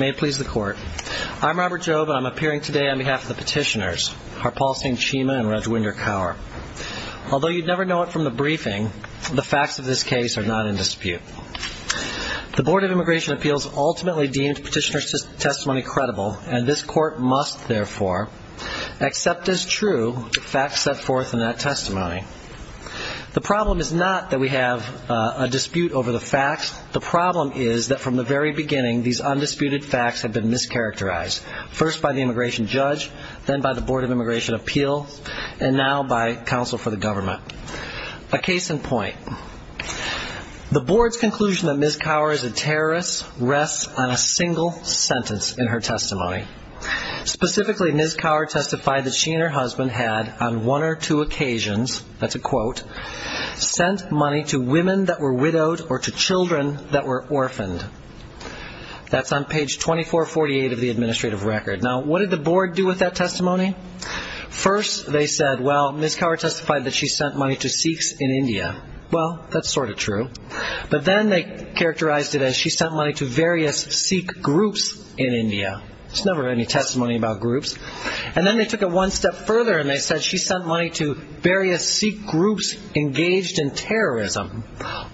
I'm Robert Jobe, and I'm appearing today on behalf of the petitioners, Harpal Singh Cheema and Rajwinder Kaur. Although you'd never know it from the briefing, the facts of this case are not in dispute. The Board of Immigration Appeals ultimately deemed petitioner's testimony credible, and this Court must therefore accept as true the facts set forth in that testimony. The problem is not that we have a dispute over the facts. The problem is that from the very beginning, these undisputed facts have been mischaracterized, first by the immigration judge, then by the Board of Immigration Appeals, and now by counsel for the government. A case in point. The Board's conclusion that Ms. Kaur is a terrorist rests on a single sentence in her testimony. Specifically, Ms. Kaur testified that she and her husband had, on one or two occasions, that's a quote, sent money to women that were widowed or to children that were orphaned. That's on page 2448 of the administrative record. Now, what did the Board do with that testimony? First, they said, well, Ms. Kaur testified that she sent money to Sikhs in India. Well, that's sort of true. But then they characterized it as she sent money to various Sikh groups in India. There's never any testimony about groups. And then they took it one step further and they said she sent money to various Sikh groups engaged in terrorism.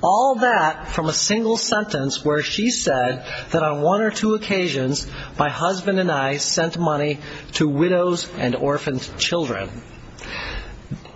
All that from a single sentence where she said that on one or two occasions, my husband and I sent money to widows and orphaned children.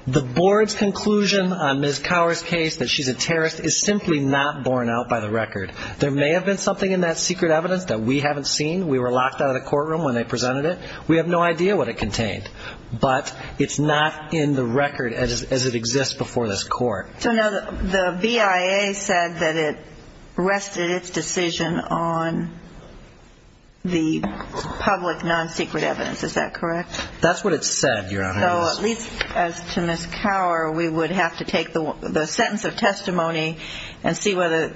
The Board's conclusion on Ms. Kaur's case that she's a terrorist is simply not borne out by the record. There may have been something in that secret evidence that we haven't seen. We were locked out of the courtroom when they presented it. We have no idea what it contained. But it's not in the record as it exists before this Court. So now the BIA said that it rested its decision on the public non-secret evidence. Is that correct? That's what it said, Your Honor. So at least as to Ms. Kaur, we would have to take the sentence of testimony and see whether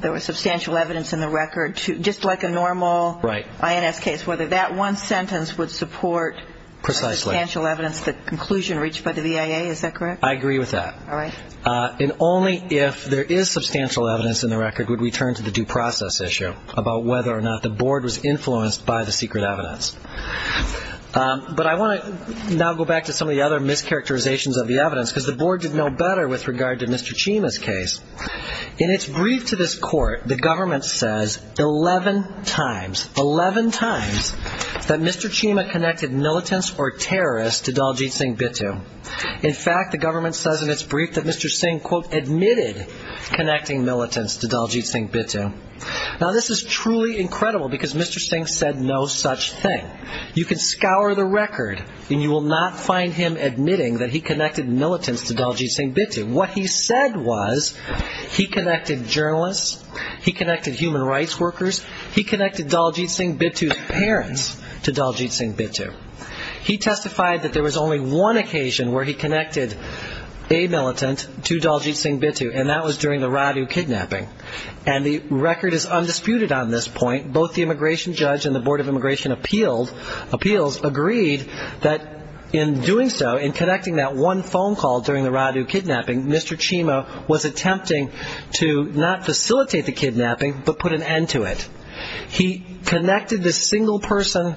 there was substantial evidence in the record, just like a normal INS case, whether that one sentence would support substantial evidence, the conclusion reached by the BIA. Is that correct? I agree with that. And only if there is substantial evidence in the record would we turn to the due process issue about whether or not the Board was influenced by the secret evidence. But I want to now go back to some of the other mischaracterizations of the evidence, because the Board did know better with regard to Mr. Chima's case. In its brief to this Court, the government says 11 times, 11 times, that Mr. Chima connected militants or terrorists to Daljeet Singh Bittu. In fact, the government says in its brief that Mr. Singh, quote, admitted connecting militants to Daljeet Singh Bittu. Now, this is truly incredible, because Mr. Singh said no such thing. You can scour the record, and you will not find him admitting that he connected militants to Daljeet Singh Bittu. What he said was he connected journalists, he connected human rights workers, he connected Daljeet Singh Bittu's parents to Daljeet Singh Bittu. He testified that there was only one occasion where he connected a militant to Daljeet Singh Bittu, and that was during the Radu kidnapping, and that was in the Radu kidnapping. And the record is undisputed on this point. Both the immigration judge and the Board of Immigration Appeals agreed that in doing so, in connecting that one phone call during the Radu kidnapping, Mr. Chima was attempting to not facilitate the kidnapping, but put an end to it. He connected this single person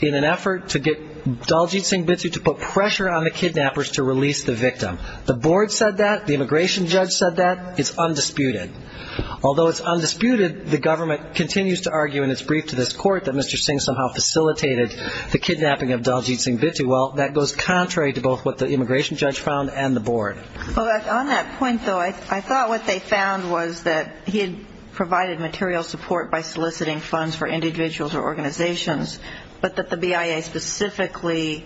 in an effort to get Daljeet Singh Bittu to put pressure on the kidnappers to release the victim. The Board said that. The immigration judge said that. It's undisputed. Although it's undisputed, the government continues to argue in its brief to this court that Mr. Singh somehow facilitated the kidnapping of Daljeet Singh Bittu. Well, that goes contrary to both what the immigration judge found and the Board. Well, on that point, though, I thought what they found was that he had provided material support by soliciting funds for individuals or organizations, but that the BIA specifically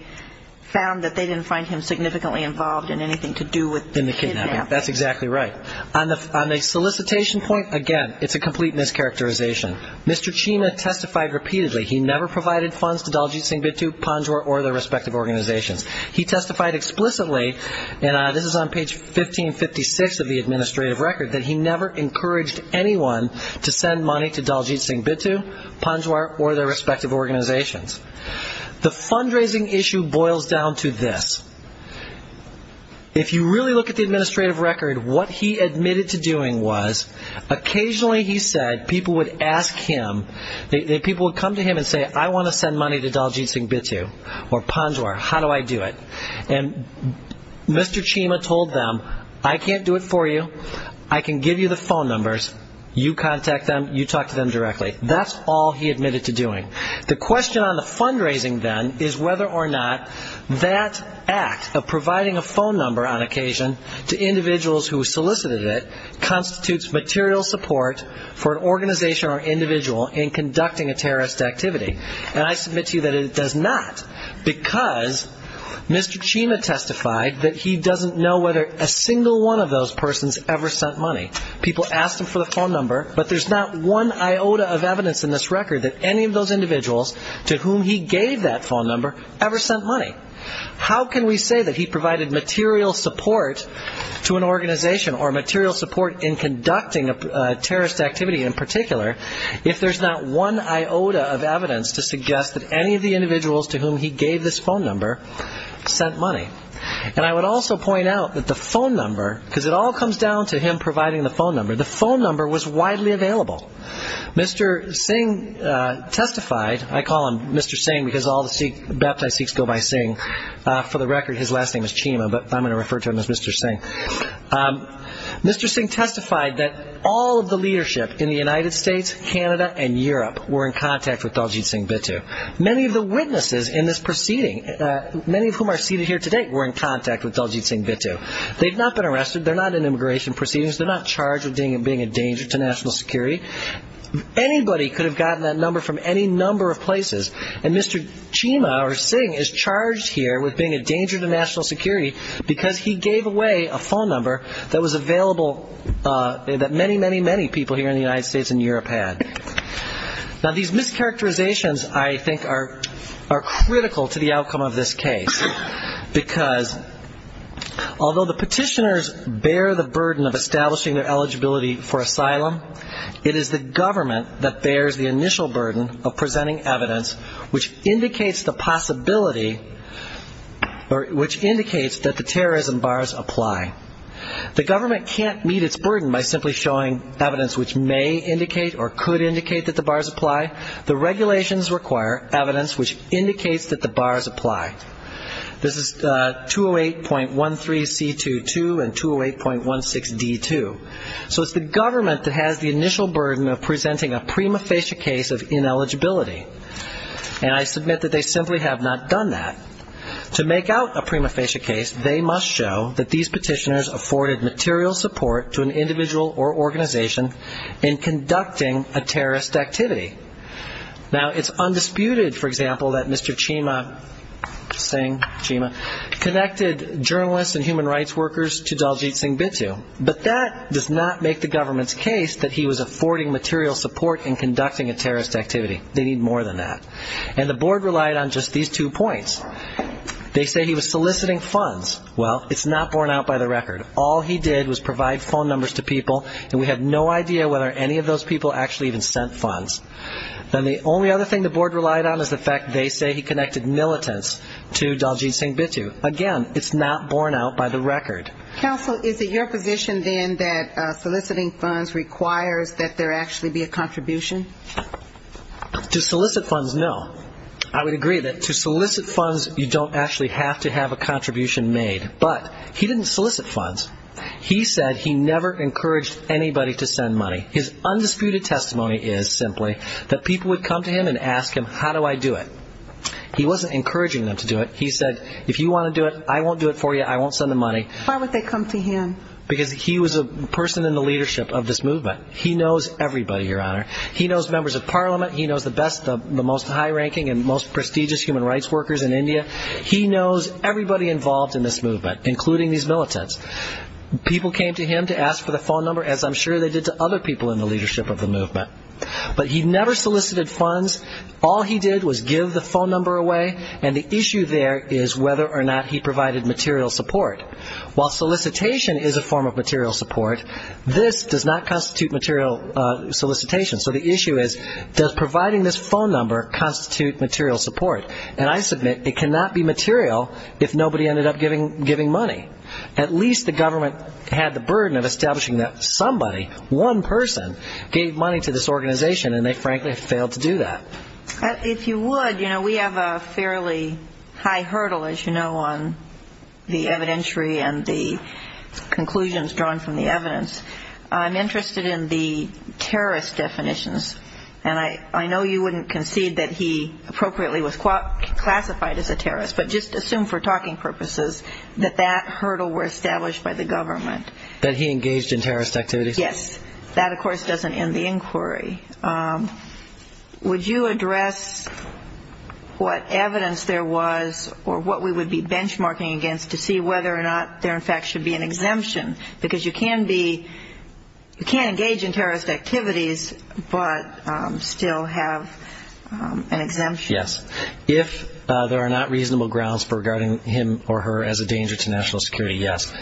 found that they didn't find him significantly involved in anything to do with the kidnapping. That's exactly right. On the solicitation point, again, it's a complete mischaracterization. Mr. Chima testified repeatedly he never provided funds to Daljeet Singh Bittu, Panjwar, or their respective organizations. He testified explicitly, and this is on page 1556 of the administrative record, that he never encouraged anyone to send money to Daljeet Singh Bittu, Panjwar, or their respective organizations. The fundraising issue boils down to this. If you really look at the administrative record, what he admitted to doing was occasionally he said people would ask him, people would come to him and say, I want to send money to Daljeet Singh Bittu or Panjwar. How do I do it? And Mr. Chima told them, I can't do it for you. I can give you the phone numbers. You contact them. You talk to them directly. That's all he admitted to doing. The question on the fundraising, then, is whether or not that act of solicitation, whether or not that act of solicitation constitutes material support for an organization or individual in conducting a terrorist activity. And I submit to you that it does not, because Mr. Chima testified that he doesn't know whether a single one of those persons ever sent money. People asked him for the phone number, but there's not one iota of evidence in this record that any of those individuals to whom he gave that phone number ever sent money. How can we say that he provided material support to an organization or material support in conducting a terrorist activity in particular, if there's not one iota of evidence to suggest that any of the individuals to whom he gave this phone number sent money? And I would also point out that the phone number, because it all comes down to him providing the phone number, the phone number was widely available. Mr. Singh testified, I call him Mr. Singh because all the Sikh Baptists in the world know him, Mr. Singh testified that all of the leadership in the United States, Canada, and Europe were in contact with Daljeet Singh Bittu. Many of the witnesses in this proceeding, many of whom are seated here today, were in contact with Daljeet Singh Bittu. They've not been arrested, they're not in immigration proceedings, they're not charged with being a danger to national security. Anybody could have gotten that number from any person, but Daljeet Singh is charged here with being a danger to national security because he gave away a phone number that was available that many, many, many people here in the United States and Europe had. Now, these mischaracterizations, I think, are critical to the outcome of this case, because although the petitioners bear the burden of establishing their eligibility for asylum, it is the government that has the initial burden of presenting a prima facie case of ineligibility, which indicates that the terrorism bars apply. The government can't meet its burden by simply showing evidence which may indicate or could indicate that the bars apply. The regulations require evidence which indicates that the bars apply. This is 208.13C22 and 208.16D2. So it's the government that has the initial burden of presenting a prima facie case of ineligibility. And I submit that they simply have not done that, and I'm not going to deny that. To make out a prima facie case, they must show that these petitioners afforded material support to an individual or organization in conducting a terrorist activity. Now, it's undisputed, for example, that Mr. Chima Singh connected journalists and human rights workers to Daljeet Singh Bintu, but that does not make the government's case that he was affording material support in Daljeet Singh Bintu. Now, they say he was soliciting funds. They say he was soliciting funds. Well, it's not borne out by the record. All he did was provide phone numbers to people, and we have no idea whether any of those people actually even sent funds. Now, the only other thing the board relied on is the fact they say he connected militants to Daljeet Singh Bintu. Again, it's not borne out by the record. Counsel, is it your position, then, that soliciting funds requires that there actually be a contribution? To solicit funds, no. I would agree that to solicit funds, you don't actually have to have a contribution made. But he didn't solicit funds. He said he never encouraged anybody to send money. His undisputed testimony is simply that people would come to him and ask him, how do I do it? He wasn't encouraging them to do it. He said, if you want to do it, I won't do it for you, I won't do it for you. So why would they come to him? Because he was a person in the leadership of this movement. He knows everybody, Your Honor. He knows members of Parliament. He knows the best, the most high-ranking and most prestigious human rights workers in India. He knows everybody involved in this movement, including these militants. People came to him to ask for the phone number, as I'm sure they did to other people in the leadership of the movement. But he never solicited funds. All he did was give the phone number away, and the issue there is whether or not he provided material support. While solicitation is a form of material support, this does not constitute material solicitation. So the issue is, does providing this phone number constitute material support? And I submit, it cannot be material if nobody ended up giving money. At least the government had the burden of establishing that somebody, one person, gave money to this organization, and they frankly failed to do that. If you would, you know, we have a fairly high hurdle, as you know, on the evidentiary and the conclusions drawn from the evidence. I'm interested in the terrorist definitions, and I know you wouldn't concede that he appropriately was classified as a terrorist, but just assume for talking purposes that that hurdle were established by the government. That he engaged in terrorist activities? Yes. That, of course, doesn't end the inquiry. Would you address what evidence there was or what we would be benchmarking against to see whether or not there in fact should be an exemption? Because you can't engage in terrorist activities, but still have an exemption. Yes. If there are not reasonable grounds for regarding him or her as a danger to national security, yes.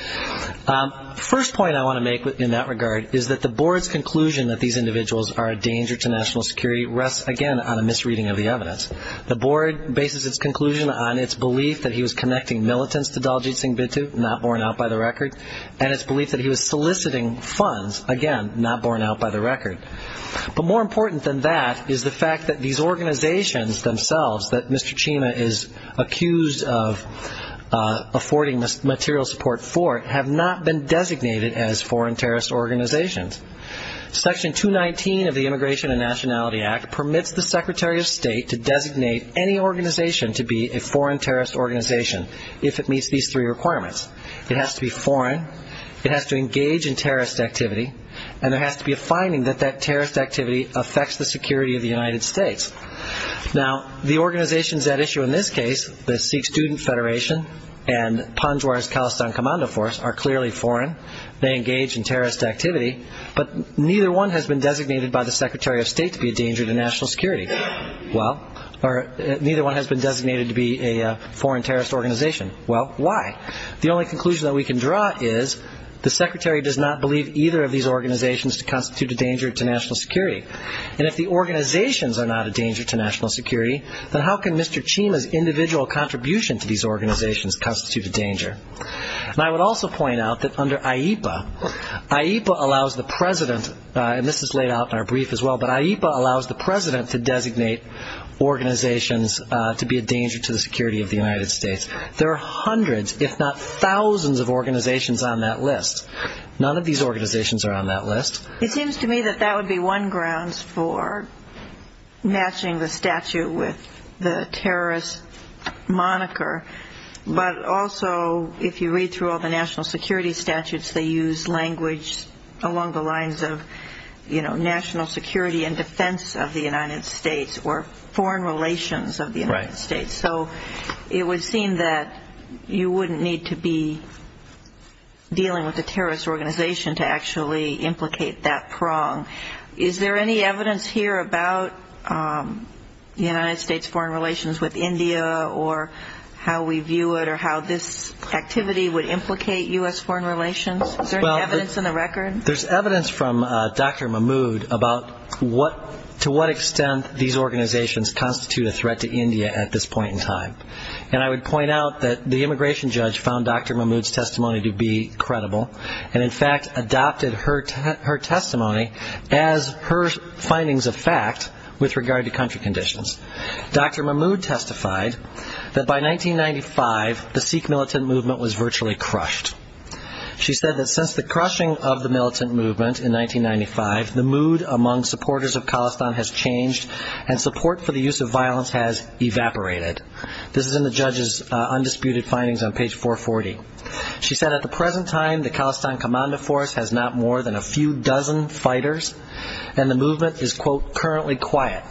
First point I want to make in that regard is that the board's conclusion that these individuals are a danger to national security rests, again, on a misreading of the evidence. The board bases its conclusion on its belief that he was connecting militants to Daljit Singh Bidtu, not borne out by the record, and its belief that he was soliciting funds, again, not borne out by the record. But more important than that is the fact that these organizations themselves, that Mr. Chima is accused of affording material support for, and that Mr. Chima is accused of supporting, have not been designated as foreign terrorist organizations. Section 219 of the Immigration and Nationality Act permits the Secretary of State to designate any organization to be a foreign terrorist organization if it meets these three requirements. It has to be foreign, it has to engage in terrorist activity, and there has to be a finding that that terrorist activity affects the security of the United States. Now, the organizations at issue in this case, the Sikh Student Federation and Panjwara's Palestine Commando Force, are clearly foreign, they engage in terrorist activity, but neither one has been designated by the Secretary of State to be a danger to national security. Well, or neither one has been designated to be a foreign terrorist organization. Well, why? The only conclusion that we can draw is the Secretary does not believe either of these organizations to constitute a danger to national security. And if the organizations are not a danger to national security, then how can Mr. Chima's individual contribution to these organizations constitute a danger? And I would also point out that under IEPA, IEPA allows the President, and this is laid out in our brief as well, but IEPA allows the President to designate organizations to be a danger to the security of the United States. There are hundreds, if not thousands of organizations on that list. None of these organizations are on that list. It seems to me that that would be one grounds for matching the statue with the terrorist moniker by the Secretary of State. But also, if you read through all the national security statutes, they use language along the lines of, you know, national security and defense of the United States or foreign relations of the United States. So it would seem that you wouldn't need to be dealing with a terrorist organization to actually implicate that prong. Is there any evidence here about the United States foreign relations with India or how we view it or how this activity would implicate U.S. foreign relations? Is there any evidence in the record? There's evidence from Dr. Mahmood about to what extent these organizations constitute a threat to India at this point in time. And I would point out that the immigration judge found Dr. Mahmood's testimony to be credible, and in fact adopted her testimony as her findings of the country conditions. Dr. Mahmood testified that by 1995, the Sikh militant movement was virtually crushed. She said that since the crushing of the militant movement in 1995, the mood among supporters of Khalistan has changed and support for the use of violence has evaporated. This is in the judge's undisputed findings on page 440. She said at the present time, the Khalistan Commando Force has not been used by more than a few dozen fighters, and the movement is, quote, currently quiet.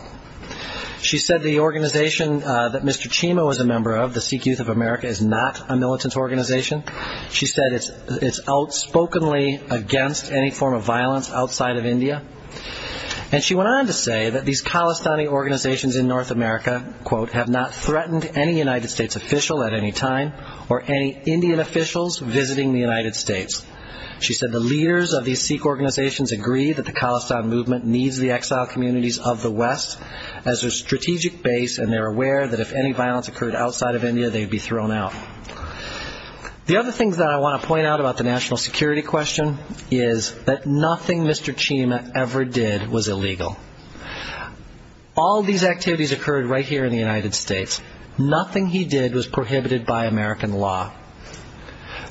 She said the organization that Mr. Chima was a member of, the Sikh Youth of America, is not a militant organization. She said it's outspokenly against any form of violence outside of India. And she went on to say that these Khalistani organizations in North America, quote, have not threatened any United States official at any time, or any Indian officials visiting the United States. She said the leaders of these Sikh organizations agree that the Khalistan movement needs the exile communities of the West as their strategic base, and they're aware that if any violence occurred outside of India, they'd be thrown out. The other thing that I want to point out about the national security question is that nothing Mr. Chima ever did was illegal. All of these activities occurred right here in the United States. Nothing he did was prohibited by American law.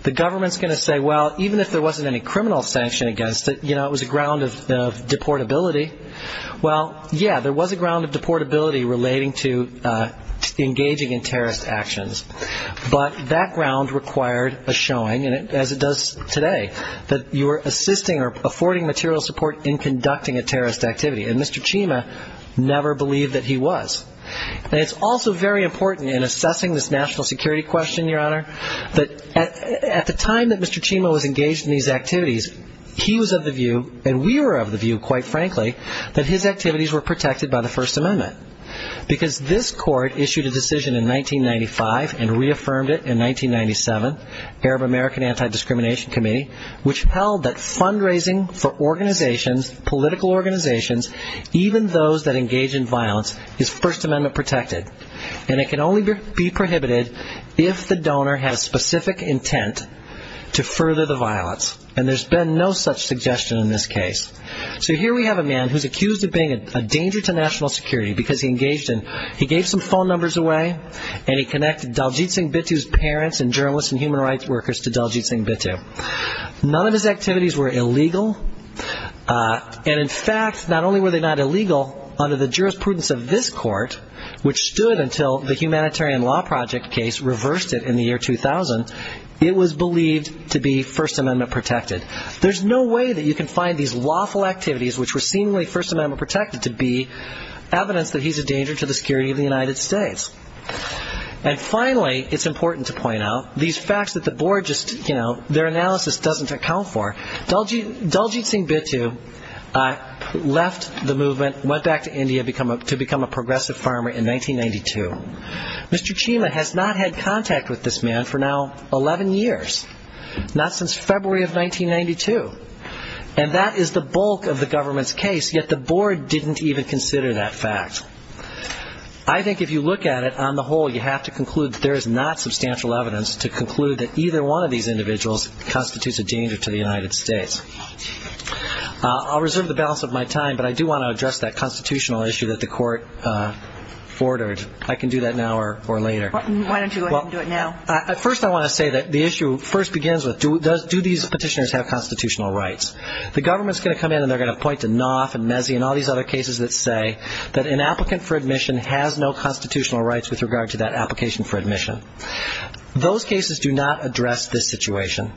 The government's going to say, well, even if there wasn't any criminal sanction against it, you know, it was a ground of deportability. Well, yeah, there was a ground of deportability relating to engaging in terrorist actions, but that ground required a showing, as it does today, that you're assisting or protecting the people of the United States who never believed that he was. And it's also very important in assessing this national security question, Your Honor, that at the time that Mr. Chima was engaged in these activities, he was of the view, and we were of the view, quite frankly, that his activities were protected by the First Amendment, because this court issued a decision in 1995 and reaffirmed it in 1997, Arab American Anti-Discrimination Committee, which held that fundraising for organizations, political organizations, even those that engage in violence, is First Amendment protected, and it can only be prohibited if the donor has specific intent to further the violence. And there's been no such suggestion in this case. So here we have a man who's accused of being a danger to national security, because he engaged in, he gave some phone numbers away, and he connected Daljit Singh Bittu's parents and journalists and human rights workers to Daljit Singh Bittu. None of his activities were illegal, and in fact, not only were they not illegal, unlawfully, but they were not illegal, and because of the jurisprudence of this court, which stood until the Humanitarian Law Project case reversed it in the year 2000, it was believed to be First Amendment protected. There's no way that you can find these lawful activities, which were seemingly First Amendment protected, to be evidence that he's a danger to the security of the United States. And finally, it's important to point out, these facts that the board just, you know, their analysis doesn't account for, Daljit Singh Bittu left the movement, went back to India to become a progressive farmer in 1992. Mr. Chima has not had contact with this man for now 11 years, not since February of 1992. And that is the bulk of the government's case, yet the board didn't even consider that fact. I think if you look at it, on the whole, you have to conclude that there is not substantial evidence to conclude that either one of these individuals constitutes a danger to the security of the United States. And that's a constitutional issue that the court forwarded. I can do that now or later. Why don't you go ahead and do it now? First, I want to say that the issue first begins with, do these petitioners have constitutional rights? The government's going to come in and they're going to point to Knopf and Mezzi and all these other cases that say that an applicant for admission has no constitutional rights with regard to that application for admission. Those cases do not address this situation.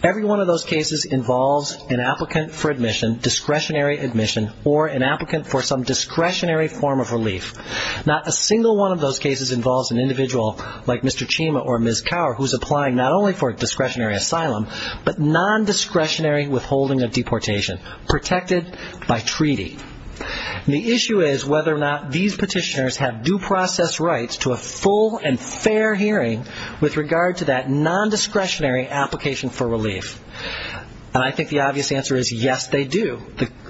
Every one of those cases involves an applicant for admission, discretionary admission, or an applicant for some discretionary form of relief. Not a single one of those cases involves an individual like Mr. Chima or Ms. Cower, who's applying not only for discretionary asylum, but non-discretionary withholding of deportation, protected by treaty. And the issue is whether or not these petitioners have due process rights to a full and fair hearing with regard to that non-discretionary application for relief. And I think the obvious answer is yes, they do.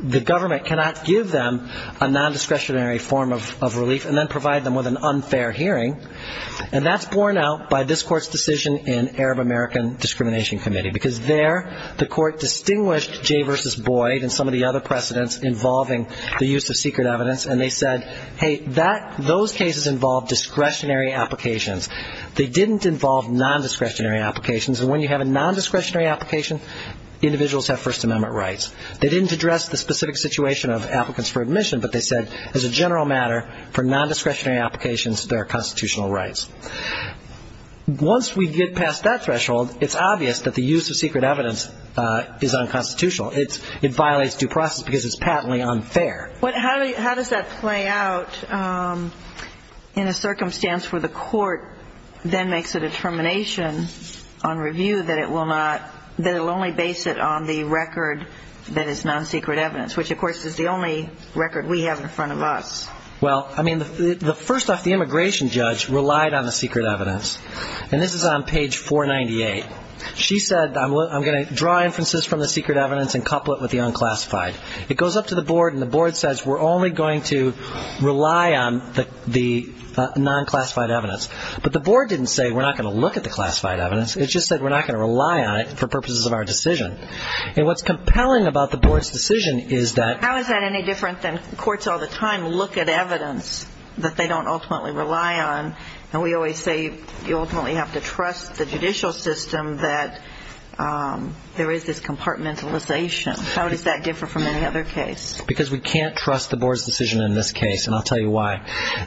The government cannot give them a non-discretionary form of relief and then provide them with an unfair hearing. And that's borne out by this Court's decision in Arab American Discrimination Committee, because there the Court distinguished Jay v. Boyd and some of the other precedents involving the use of secret evidence, and they said, hey, those cases involve discretionary applications. They didn't involve non-discretionary applications. And when you have a non-discretionary application, individuals have First Amendment rights. They didn't address the specific situation of applicants for admission, but they said, as a general matter, for non-discretionary applications, there are constitutional rights. Once we get past that threshold, it's obvious that the use of secret evidence is unconstitutional. It violates due process, because it's patently unfair. But how does that play out in a circumstance where the Court then makes a determination on review that it will not use secret evidence, that it will only base it on the record that is non-secret evidence, which, of course, is the only record we have in front of us? Well, I mean, first off, the immigration judge relied on the secret evidence. And this is on page 498. She said, I'm going to draw inferences from the secret evidence and couple it with the unclassified. It goes up to the board, and the board says, we're only going to rely on the non-classified evidence. But the board didn't say, we're not going to look at the classified evidence. It just said, we're not going to rely on it for purposes of our decision. And what's compelling about the board's decision is that... How is that any different than courts all the time look at evidence that they don't ultimately rely on? And we always say, you ultimately have to trust the judicial system that there is this compartmentalization. How does that differ from any other case? Because we can't trust the board's decision in this case, and I'll tell you why.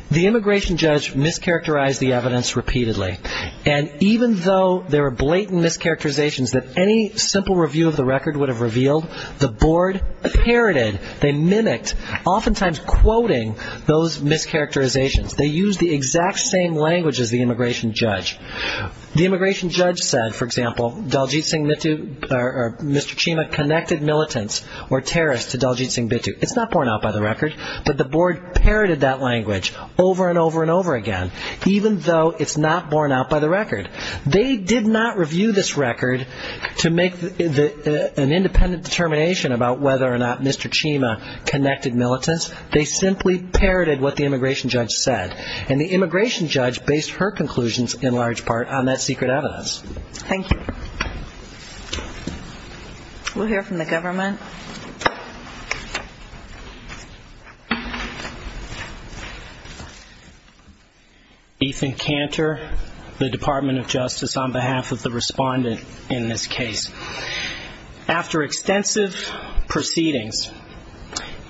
The immigration judge mischaracterized the evidence repeatedly. And even though there are blatant mischaracterizations that any simple review of the record would have revealed, the board parroted, they mimicked, oftentimes quoting those mischaracterizations. They used the exact same language as the immigration judge. The immigration judge said, for example, Daljeet Singh Bittu or Mr. Chima connected militants or terrorists to Daljeet Singh Bittu. It's not borne out by the record, but the board parroted that language over and over and over again, even though it's not borne out by the record. They did not review this record to make an independent determination about whether or not Mr. Chima connected militants. They simply parroted what the immigration judge said. And the immigration judge based her conclusions, in large part, on that secret evidence. Thank you. We'll hear from the government. Ethan Cantor, the Department of Justice, on behalf of the respondent in this case. After extensive proceedings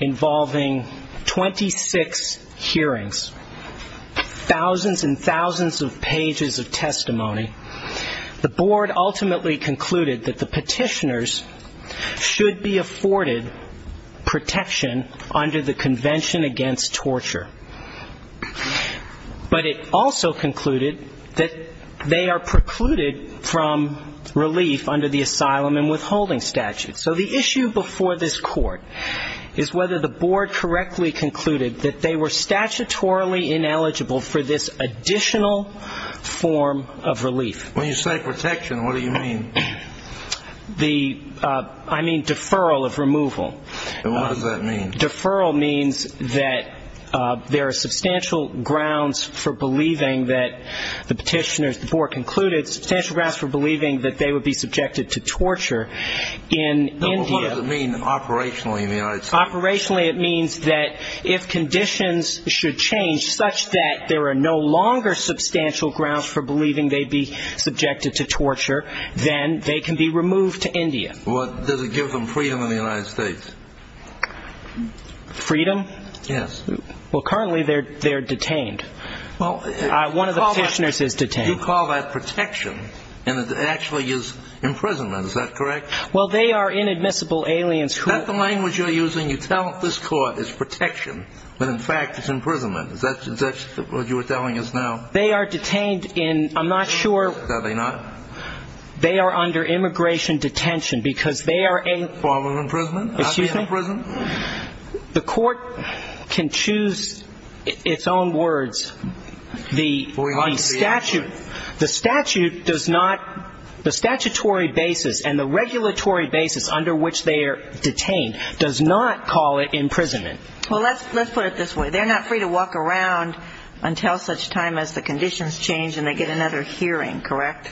involving 26 hearings, thousands and thousands of pages of testimony, the board ultimately concluded that the petitioners should be a forted protection under the Convention Against Torture. But it also concluded that they are precluded from relief under the asylum and withholding statute. So the issue before this court is whether the board correctly concluded that they were statutorily ineligible for this additional form of relief. When you say protection, what do you mean? I mean deferral of removal. And what does that mean? Deferral means that there are substantial grounds for believing that the petitioners, the board concluded, substantial grounds for believing that they would be subjected to torture in India. No, but what does it mean operationally in the United States? Operationally, it means that if conditions should change such that there are no longer substantial grounds for believing they'd be subjected to torture, then they can be removed to India. Freedom? Yes. Well, currently they're detained. One of the petitioners is detained. You call that protection, and it actually is imprisonment, is that correct? Well, they are inadmissible aliens who... It's imprisonment. The court can choose its own words. The statute does not, the statutory basis and the regulatory basis under which they are detained does not call it imprisonment. Well, let's put it this way. They're not free to walk around until such time as the conditions change and they get another hearing, correct?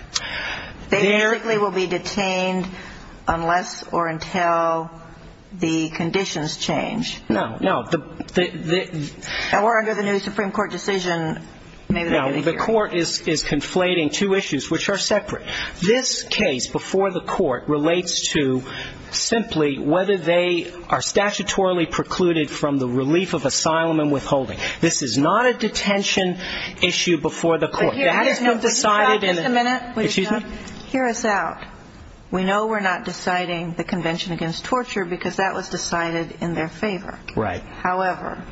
They basically will be detained unless or until the conditions change. No, no. Now we're under the new Supreme Court decision. No, the court is conflating two issues which are separate. This case before the court relates to simply whether they are statutorily precluded from the relief of asylum and withholding. This is not a detention issue before the court. Excuse me? Hear us out. We know we're not deciding the Convention Against Torture because that was decided in their favor. However,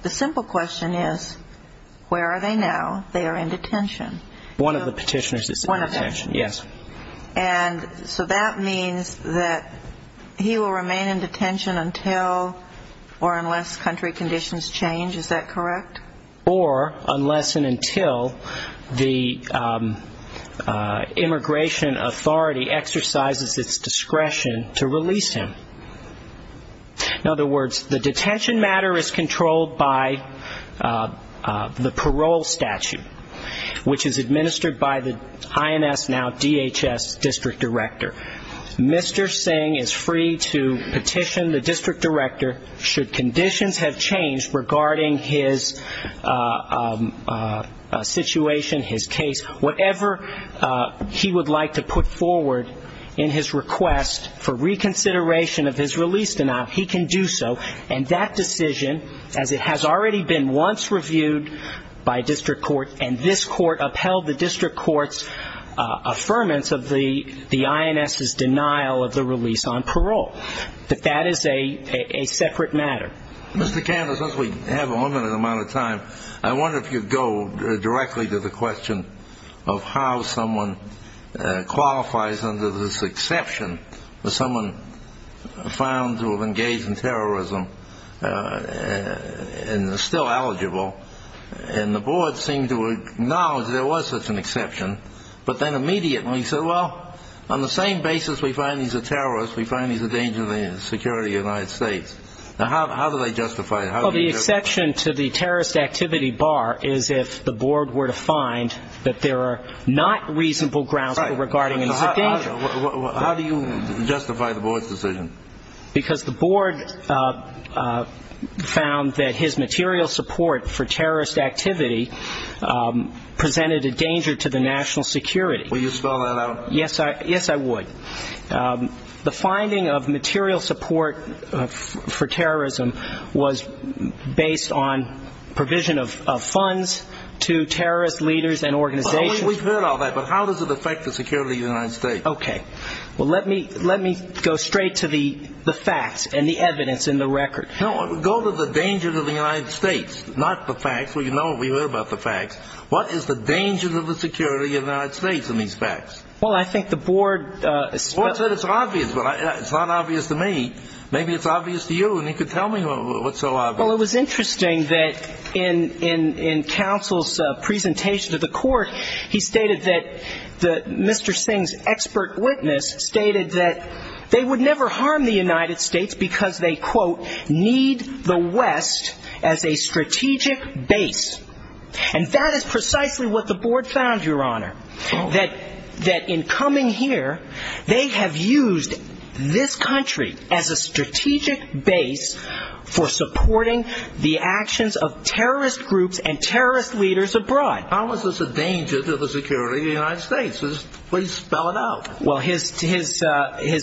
the simple question is, where are they now? They are in detention. One of the petitioners is in detention, yes. And so that means that he will remain in detention until or unless country conditions change, is that correct? Or unless and until the immigration authority exercises its discretion to release him. In other words, the detention matter is controlled by the parole statute, which is administered by the IMS, now DHS, district director. Mr. Singh is free to petition the district director should conditions have changed regarding his detention. Whatever he would like to put forward in his request for reconsideration of his release denial, he can do so. And that decision, as it has already been once reviewed by district court, and this court upheld the district court's affirmance of the IMS's denial of the release on parole. But that is a separate matter. I wonder if you could go directly to the question of how someone qualifies under this exception, someone found to have engaged in terrorism and is still eligible, and the board seemed to acknowledge there was such an exception, but then immediately said, well, on the same basis we find he's a terrorist, we find he's a danger to the security of the United States. Now, how do they justify it? Well, the exception to the terrorist activity bar is if the board were to find that there are not reasonable grounds for regarding him as a danger. How do you justify the board's decision? Because the board found that his material support for terrorist activity presented a danger to the national security. Will you spell that out? Yes, I would. The finding of material support for terrorism was based on provision of funds to terrorist leaders and organizations. We've heard all that, but how does it affect the security of the United States? Okay. Well, let me go straight to the facts and the evidence and the record. No, go to the danger to the United States, not the facts. Well, you know, we heard about the facts. What is the danger to the security of the United States in these facts? Well, I think the board... The board said it's obvious, but it's not obvious to me. Maybe it's obvious to you, and you could tell me what's so obvious. Well, it was interesting that in counsel's presentation to the court, he stated that Mr. Singh's expert witness stated that they would never harm the United States because they, quote, need the West as a strategic base. And that is precisely what the board found, Your Honor, that in coming here, they have used this country as a strategic base for supporting the actions of terrorist groups and terrorist leaders abroad. How is this a danger to the security of the United States? Please spell it out. Well, his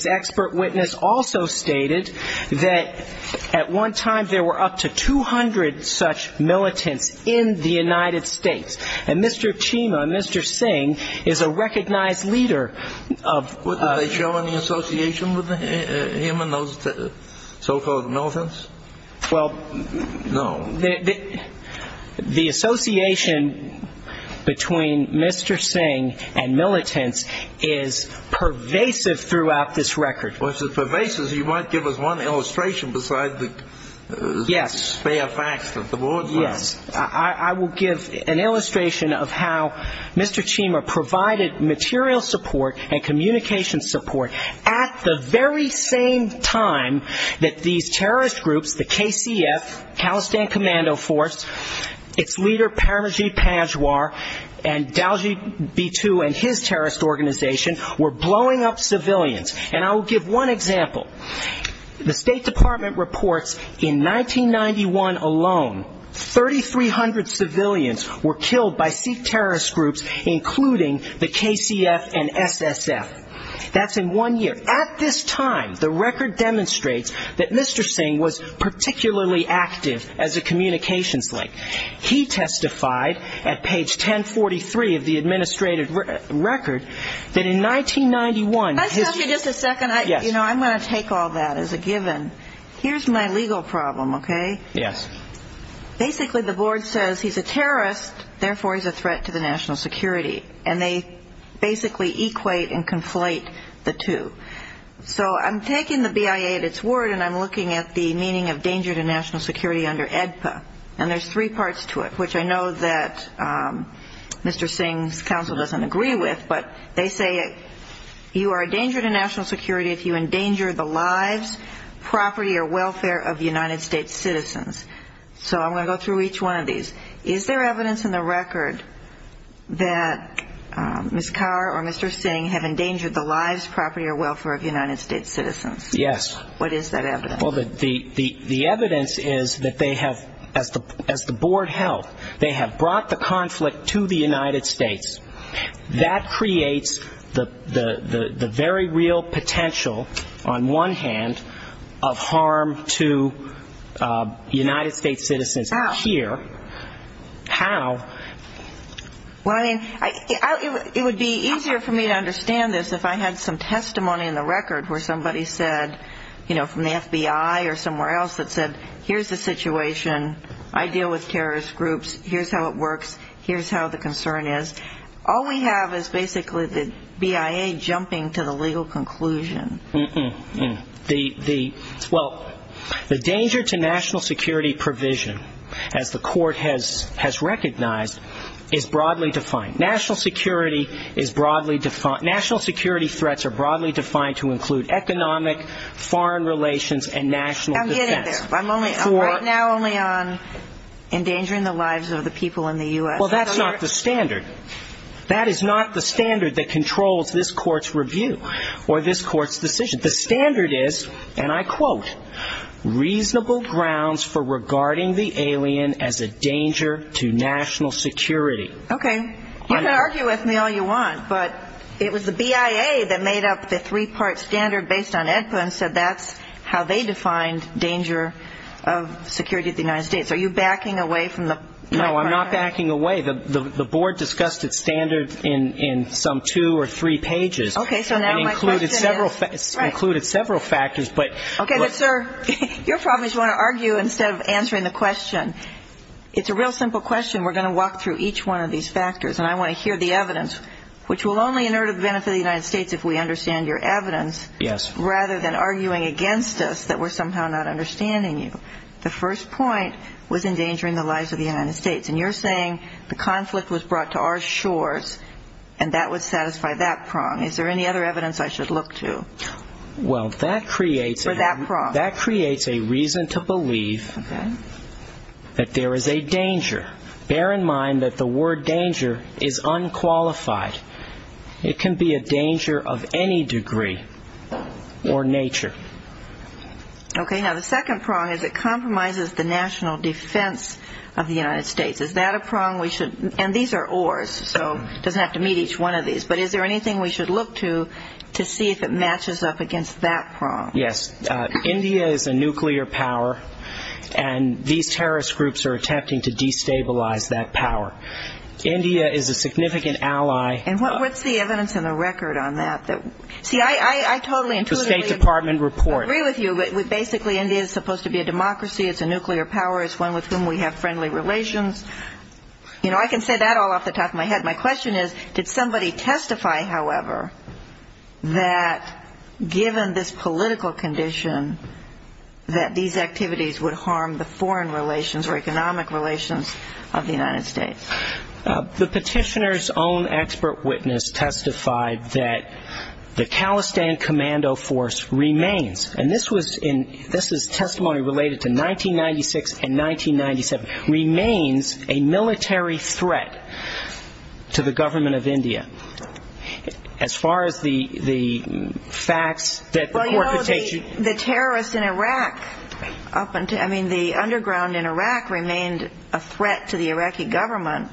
expert witness also stated that at one time there were up to 200 such militants in the United States. And Mr. Chima, Mr. Singh, is a recognized leader of... What did they show in the association with him and those so-called militants? Well, the association between Mr. Singh and militants is one of a kind. It's pervasive throughout this record. Well, if it's pervasive, you might give us one illustration besides the spare facts that the board found. Yes. I will give an illustration of how Mr. Chima provided material support and communication support at the very same time that these terrorist groups, the KCF, the Khalistan Commando Force, its leader, Paramajit Panjwar, and Daljit Bitu and his terrorist organization were brought to the United States. Blowing up civilians. And I will give one example. The State Department reports in 1991 alone, 3,300 civilians were killed by Sikh terrorist groups, including the KCF and SSF. That's in one year. At this time, the record demonstrates that Mr. Singh was particularly active as a communications link. He testified at page 1043 of the administrative record that in 1991 alone, the KCF and SSF were killed by Sikh terrorist groups. Can I stop you just a second? I'm going to take all that as a given. Here's my legal problem, okay? Basically, the board says he's a terrorist, therefore he's a threat to the national security. And they basically equate and conflate the two. So I'm taking the BIA at its word, and I'm looking at the meaning of danger to national security under AEDPA. And there's three parts to it, which I know that Mr. Singh's counsel doesn't agree with. But they say you are a danger to national security if you endanger the lives, property or welfare of United States citizens. So I'm going to go through each one of these. Is there evidence in the record that Ms. Kaur or Mr. Singh have endangered the lives, property or welfare of United States citizens? Yes. What is that evidence? Well, the evidence is that they have, as the board held, they have brought the conflict to the United States. That creates the very real potential, on one hand, of harm to United States citizens here. How? Well, I mean, it would be easier for me to understand this if I had some testimony in the record where somebody said, you know, from the FBI or somewhere else that said, here's the situation, I deal with terrorist groups, here's how it works, here's how the concern is. All we have is basically the BIA jumping to the legal conclusion. Mm-mm. Well, the danger to national security provision, as the court has recognized, is broadly defined. National security threats are broadly defined to include economic, foreign relations and national defense. I'm getting there. I'm right now only on endangering the lives of the people in the U.S. Well, that's not the standard. That is not the standard that controls this court's review or this court's decision. The standard is, and I quote, reasonable grounds for regarding the alien as a danger to national security. Okay. You can argue with me all you want, but it was the BIA that made up the three-part standard based on AEDPA and said that's how they defined danger of security to the United States. Are you backing away from my part? No, I'm not backing away. The board discussed its standard in some two or three pages and included several factors. Okay. But, sir, your problem is you want to argue instead of answering the question. It's a real simple question. We're going to walk through each one of these factors, and I want to hear the evidence, which will only inert a benefit to the United States if we understand your evidence rather than arguing against us that we're somehow not understanding you. The first point was endangering the lives of the United States, and you're saying the conflict was brought to our shores and that would satisfy that prong. Is there any other evidence I should look to? Well, that creates a reason to believe that there is a danger. Bear in mind that the word danger is unqualified. It can be a danger of any degree or nature. Okay. Now, the second prong is it compromises the national defense of the United States. Is that a prong we should, and these are oars, so it doesn't have to meet each one of these. But is there anything we should look to to see if it matches up against that prong? Yes. India is a nuclear power, and these terrorist groups are attempting to destabilize that power. India is a significant ally. And what's the evidence in the record on that? See, I totally intuitively agree with you that basically India is supposed to be a democracy, it's a nuclear power, it's one with whom we have friendly relations. You know, I can say that all off the top of my head. My question is, did somebody testify, however, that given this political condition, that these activities would harm the foreign relations or economic relations of the United States? The petitioner's own expert witness testified that the Khalistan Commando Force remains, and this is testimony related to 1996 and 1997, remains a military threat to the government of India. As far as the facts that the court could take. Well, you know, the terrorists in Iraq, I mean, the underground in Iraq remained a threat to the Iraqi government.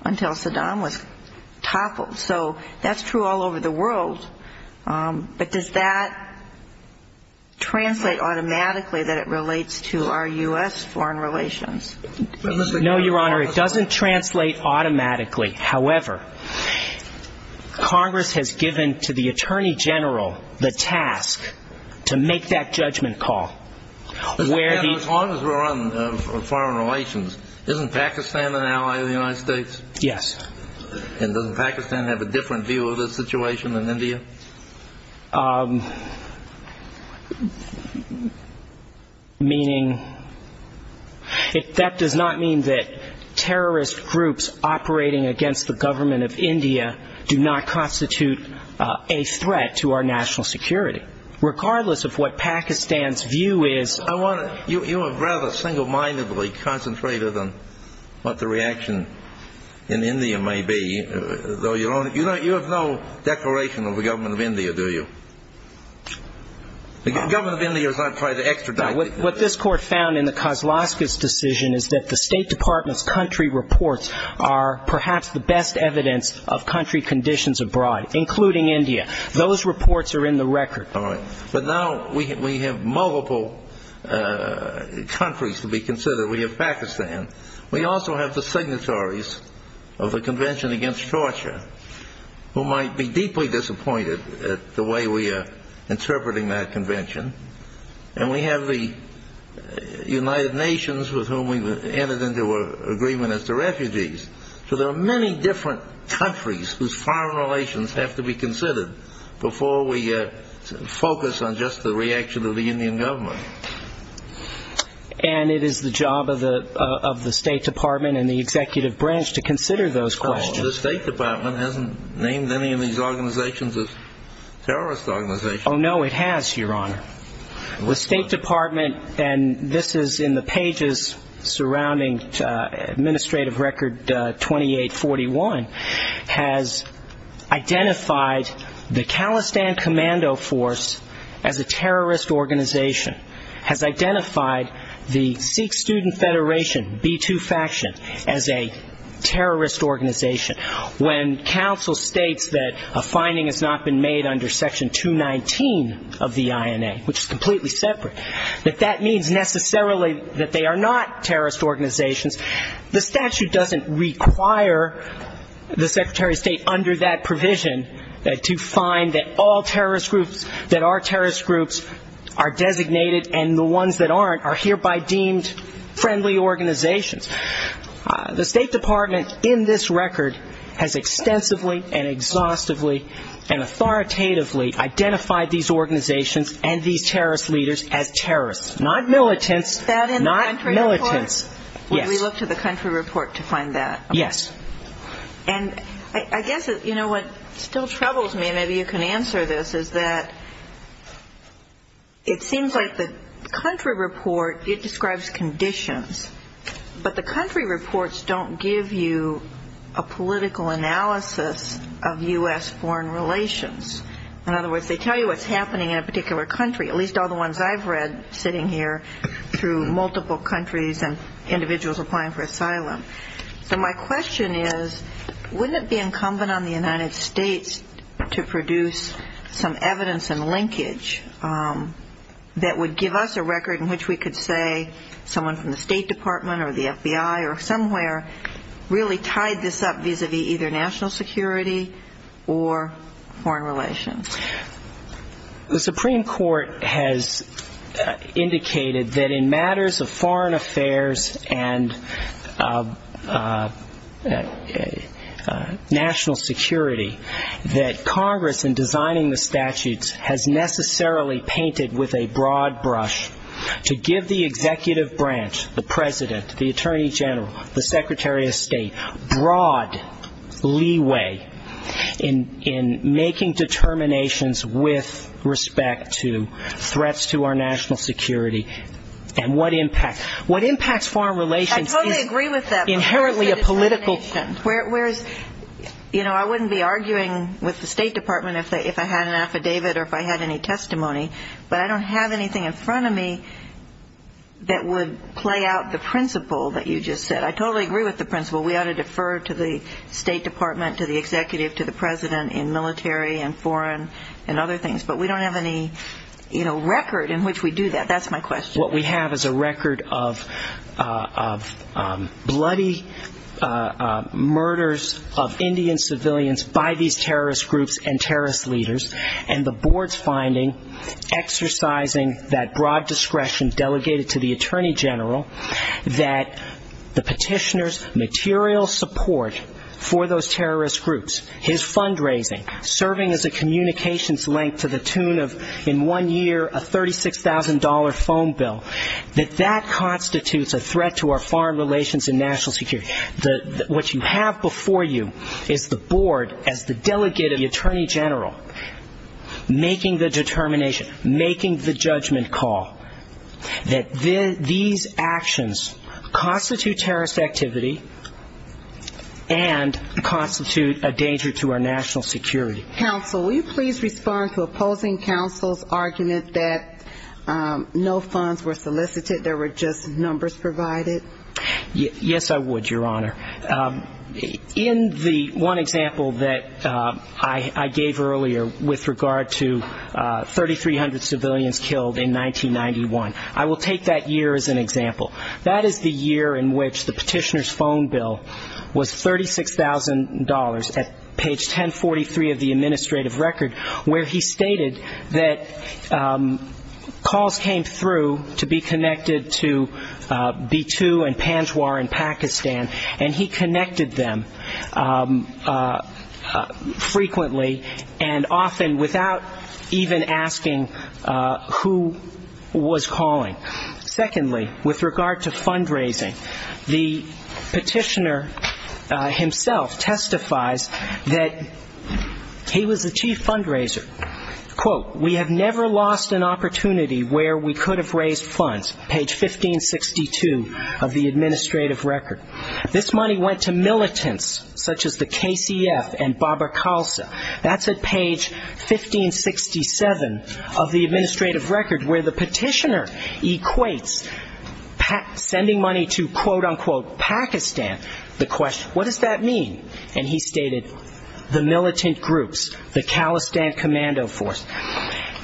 Until Saddam was toppled, so that's true all over the world. But does that translate automatically that it relates to our U.S. foreign relations? No, Your Honor, it doesn't translate automatically. However, Congress has given to the Attorney General the task to make that judgment call. As long as we're on foreign relations, isn't Pakistan an ally of the United States? Yes. And doesn't Pakistan have a different view of the situation than India? Meaning, that does not mean that terrorist groups operating against the government of India do not constitute a threat to our national security. Regardless of what Pakistan's view is. You are rather single-mindedly concentrated on what the reaction in India may be, though, Your Honor. You have no declaration of the government of India, do you? The government of India is not trying to extradite. What this court found in the Kozlowskis decision is that the State Department's country reports are perhaps the best evidence of country conditions abroad, including India. Those reports are in the record. All right. But now we have multiple countries to be considered. We have Pakistan. We also have the signatories of the Convention Against Torture, who might be deeply disappointed at the way we are interpreting that convention. And we have the United Nations, with whom we entered into an agreement as the refugees. So there are many different countries whose foreign relations have to be considered before we focus on just the reaction of the Indian government. And it is the job of the State Department and the executive branch to consider those questions. The State Department hasn't named any of these organizations as terrorist organizations. Oh, no, it has, Your Honor. The State Department, and this is in the pages surrounding Administrative Record 2841, has identified the Khalistan Commando Force as a terrorist organization, has identified the Sikh Student Federation, B2 faction, as a terrorist organization. When counsel states that a finding has not been made under Section 219 of the INA, which is completely separate, that that means necessarily that they are not terrorist organizations. The statute doesn't require the Secretary of State, under that provision, to find that all terrorist groups, that our terrorist groups are designated, and the ones that aren't are hereby deemed friendly organizations. The State Department, in this record, has extensively and exhaustively and authoritatively identified these organizations and these terrorist leaders as terrorists, not militants. Not militants. Yes. And I guess, you know, what still troubles me, and maybe you can answer this, is that it seems like the country report, it describes conditions. But the country reports don't give you a political analysis of U.S. foreign relations. In other words, they tell you what's happening in a particular country, at least all the ones I've read sitting here, through multiple countries and individuals applying for asylum. So my question is, wouldn't it be incumbent on the United States to produce some evidence and linkage that would give us a record in which we could say someone from the State Department or the FBI or the CIA, or somewhere, really tied this up vis-à-vis either national security or foreign relations? The Supreme Court has indicated that, in matters of foreign affairs and national security, that Congress, in designing the statutes, has necessarily painted with a broad brush to give the executive branch, the President, the Attorney General, the Secretary of State, broad leeway in making determinations with respect to threats to our national security and what impact. What impacts foreign relations is... I totally agree with that. ...inherently a political... ...that would play out the principle that you just said. I totally agree with the principle. We ought to defer to the State Department, to the executive, to the President in military and foreign and other things. But we don't have any record in which we do that. That's my question. What we have is a record of bloody murders of Indian civilians by these terrorist groups and terrorist leaders, and the board's finding exercising that broad discretion delegated to the Attorney General, that the petitioner's material support for those terrorist groups, his fundraising, serving as a communications link to the tune of, in one year, a $36,000 phone bill, that that constitutes a threat to our foreign relations and national security. What you have before you is the board, as the delegate of the Attorney General, making the determination, making the judgment call that these actions constitute terrorist activity and constitute a danger to our national security. Counsel, will you please respond to opposing counsel's argument that no funds were solicited, there were just numbers provided? Yes, I would, Your Honor. In the one example that I gave earlier with regard to 3,300 civilians killed in 1991. I will take that year as an example. That is the year in which the petitioner's phone bill was $36,000 at page 1043 of the administrative record, where he stated that calls came through to be connected to B-2 and Panjwar in Pakistan, and he connected them frequently and often without even asking who was calling. Secondly, with regard to fundraising, the petitioner himself testifies that he was the chief fundraiser. Quote, we have never lost an opportunity where we could have raised funds, page 1562 of the administrative record. This money went to militants, such as the KCF and Baba Khalsa. That's at page 1567 of the administrative record. Where the petitioner equates sending money to, quote, unquote, Pakistan, the question, what does that mean? And he stated, the militant groups, the Khalistan Commando Force.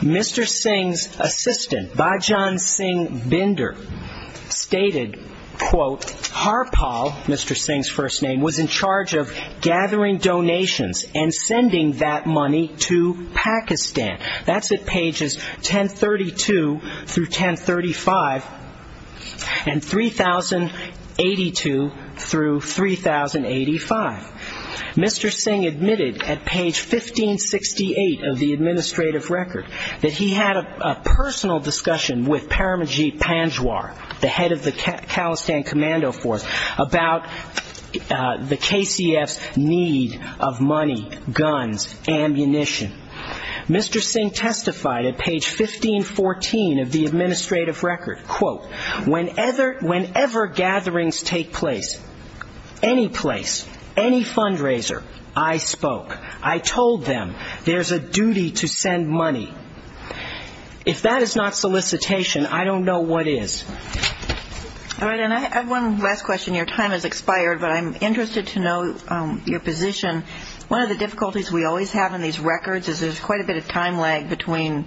Mr. Singh's assistant, Bajan Singh Binder, stated, quote, Harpal, Mr. Singh's first name, was in charge of gathering funds for the KCF, and he had a personal discussion with the head of the Khalistan Commando Force about the KCF's need of money, guns, ammunition. Mr. Singh testified at page 1514 of the administrative record, quote, whenever gatherings take place, any place, any fundraiser, I spoke. I told them there's a duty to send money. If that is not solicitation, I don't know what is. All right. And I have one last question. Your time has expired, but I'm interested to know your position. One of the difficulties we always have in these records is there's quite a bit of time lag between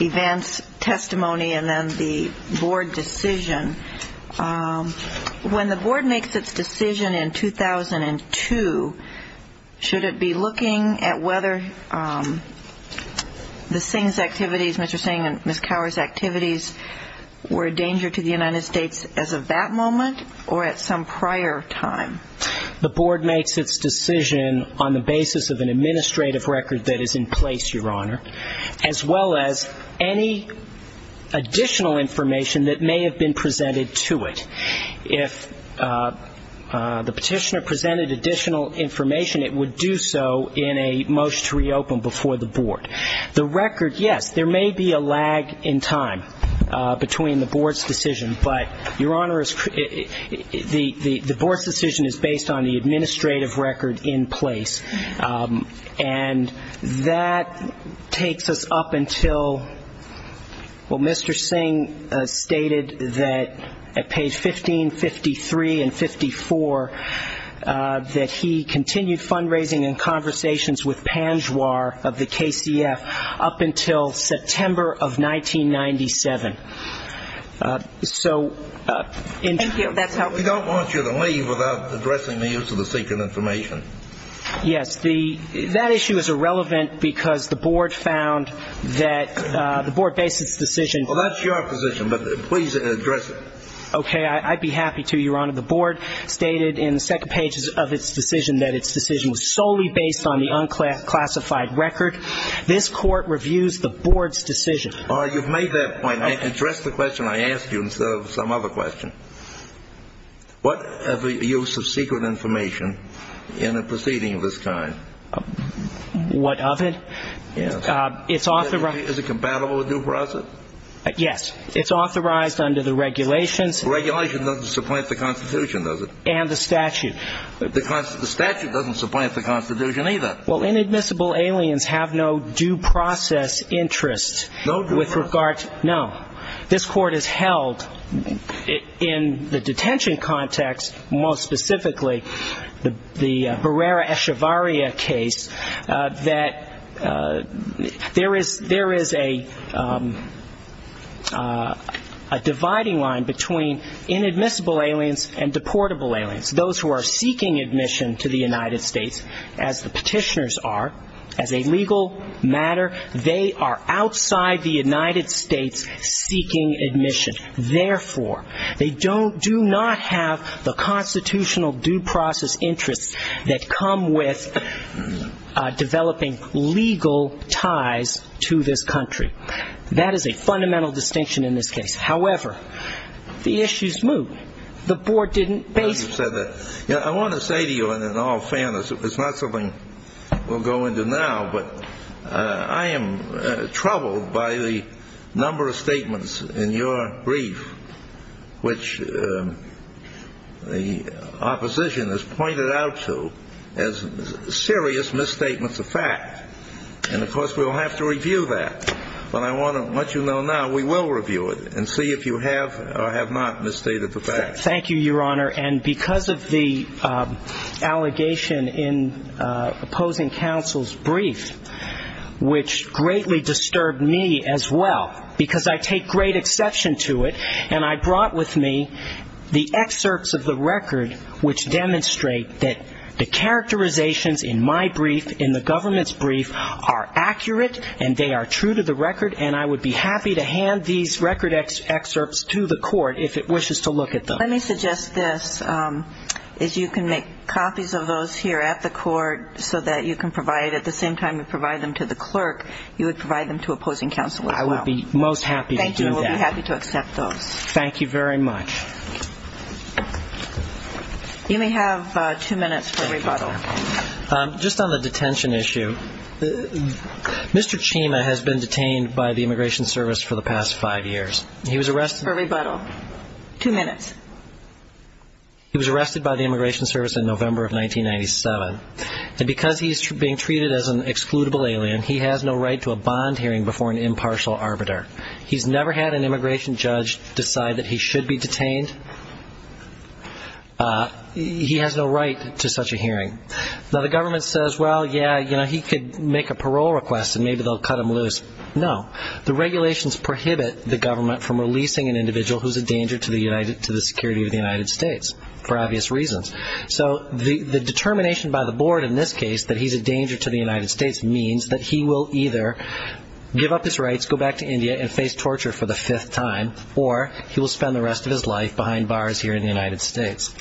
events, testimony, and then the board decision. When the board makes its decision in 2002, should it be looking at whether the Singh's activities, Mr. Singh and Ms. Cowher's activities were a danger to the United States as of that moment or at some prior time? The board makes its decision on the basis of an administrative record that is in place, Your Honor, as well as any additional information that may have been presented to it. If the Petitioner presented additional information, it would do so in a motion to reopen before the board. The record, yes, there may be a lag in time between the board's decision, but, Your Honor, the board's decision is based on the fact that the board's decision is based on the administrative record in place. And that takes us up until, well, Mr. Singh stated that at page 1553 and 54 that he continued fundraising and conversations with Panjwar of the KCF up until September of 1997. Thank you. That's helpful. We don't want you to leave without addressing the use of the secret information. Yes. That issue is irrelevant because the board found that the board based its decision Well, that's your position, but please address it. Okay. I'd be happy to, Your Honor. The board stated in the second page of its decision that its decision was solely based on the unclassified record. This Court reviews the board's decision. You've made that point. Address the question I asked you instead of some other question. What of the use of secret information in a proceeding of this kind? What of it? It's authorized. Is it compatible with due process? Yes. It's authorized under the regulations. The regulation doesn't supplant the Constitution, does it? And the statute. The statute doesn't supplant the Constitution either. Well, inadmissible aliens have no due process interest with regard to No. This Court has held in the detention context, most specifically the Barrera-Echevarria case, that there is a dividing line between inadmissible aliens and deportable aliens, those who are seeking admission to the United States, as the petitioners are. As a legal matter, they are outside the United States seeking admission. Therefore, they do not have the constitutional due process interests that come with developing legal ties to this country. That is a fundamental distinction in this case. However, the issues move. The board didn't base this case on the fact that there is a dividing line between the two. It's not something we'll go into now. But I am troubled by the number of statements in your brief which the opposition has pointed out to as serious misstatements of fact. And, of course, we'll have to review that. But I want you to know now we will review it and see if you have or have not misstated the fact. And because of the allegation in opposing counsel's brief, which greatly disturbed me as well, because I take great exception to it, and I brought with me the excerpts of the record which demonstrate that the characterizations in my brief, in the government's brief, are accurate and they are true to the record, and I would be happy to hand these record excerpts to the Court if it wishes to look at them. Let me suggest this, is you can make copies of those here at the Court so that you can provide, at the same time you provide them to the clerk, you would provide them to opposing counsel as well. I would be most happy to do that. Thank you. We'll be happy to accept those. You may have two minutes for rebuttal. He was arrested by the Immigration Service in November of 1997. And because he's being treated as an excludable alien, he has no right to a bond hearing before an impartial arbiter. He's never had an immigration judge decide that he should be detained. He has no right to such a hearing. Now, the government says, well, yeah, you know, he could make a parole request and maybe they'll cut him loose. No. The regulations prohibit the government from releasing an individual who's a danger to the security of the United States, for obvious reasons. So the determination by the board in this case that he's a danger to the United States means that he will either give up his rights, go back to India and face torture for the fifth time, or he will spend the rest of his life behind bars here in the United States.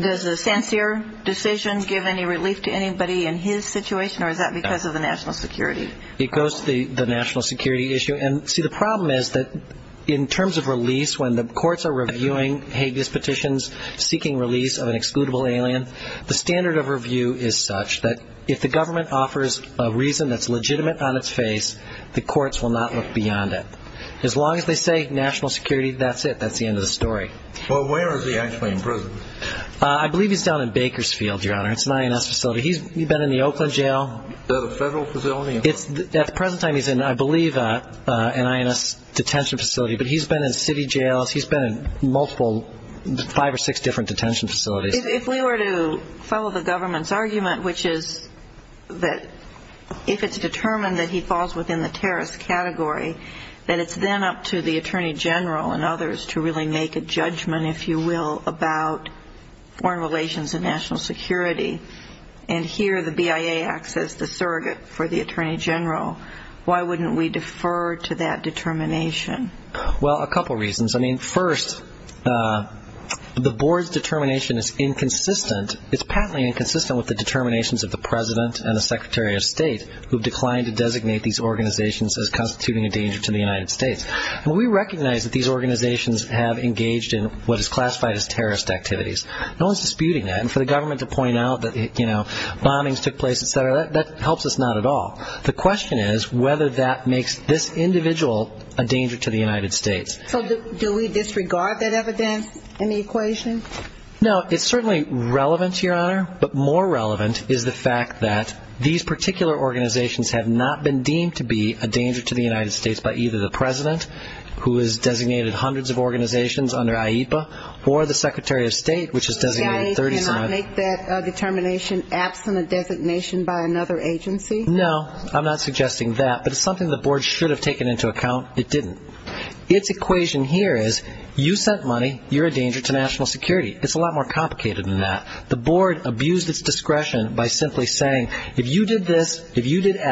Does the Sancerre decision give any relief to anybody in his situation, or is that because of the national security? It goes to the national security issue. And, see, the problem is that in terms of release, when the courts are reviewing Hague's petitions seeking release of an excludable alien, the standard of review is such that if the government offers a reason that's legitimate on its face, the courts will not look beyond it. As long as they say national security, that's it. That's the end of the story. Well, where is he actually in prison? I believe he's down in Bakersfield, Your Honor. It's an INS facility. He's been in the Oakland jail. Is that a federal facility? At the present time, he's in, I believe, an INS detention facility. But he's been in city jails. He's been in multiple, five or six different detention facilities. If we were to follow the government's argument, which is that if it's determined that he falls within the terrorist category, that it's then up to the government to make a decision. If we are to follow the foreign relations and national security, and hear the BIA act as the surrogate for the Attorney General, why wouldn't we defer to that determination? Well, a couple reasons. First, the board's determination is inconsistent, it's patently inconsistent with the determinations of the President and the Secretary of State who have declined to designate these organizations as constituting a danger to the United States. And we recognize that these organizations have engaged in what is classified as terrorist activities. No one's disputing that. And for the government to point out that, you know, bombings took place, et cetera, that helps us not at all. The question is whether that makes this individual a danger to the United States. So do we disregard that evidence in the equation? No, it's certainly relevant, Your Honor, but more relevant is the fact that these particular organizations have not been deemed to be a danger to the United States. It's not the case that the President, who has designated hundreds of organizations under IEPA, or the Secretary of State, which has designated 37. The BIA cannot make that determination absent a designation by another agency? No, I'm not suggesting that, but it's something the board should have taken into account. It didn't. Its equation here is, you sent money, you're a danger to national security. It's a lot more complicated than that. The board abused its discretion by simply saying, if you did this, if you did that,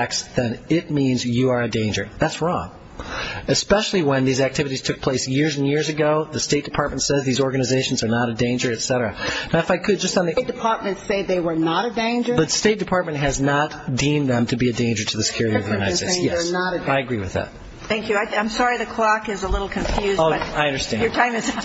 especially when these activities took place years and years ago, the State Department said these organizations are not a danger, et cetera. Now, if I could just on the... State Department say they were not a danger? But State Department has not deemed them to be a danger to the security of the United States. Yes. I agree with that. Thank you. I'm sorry the clock is a little confused, but your time is up.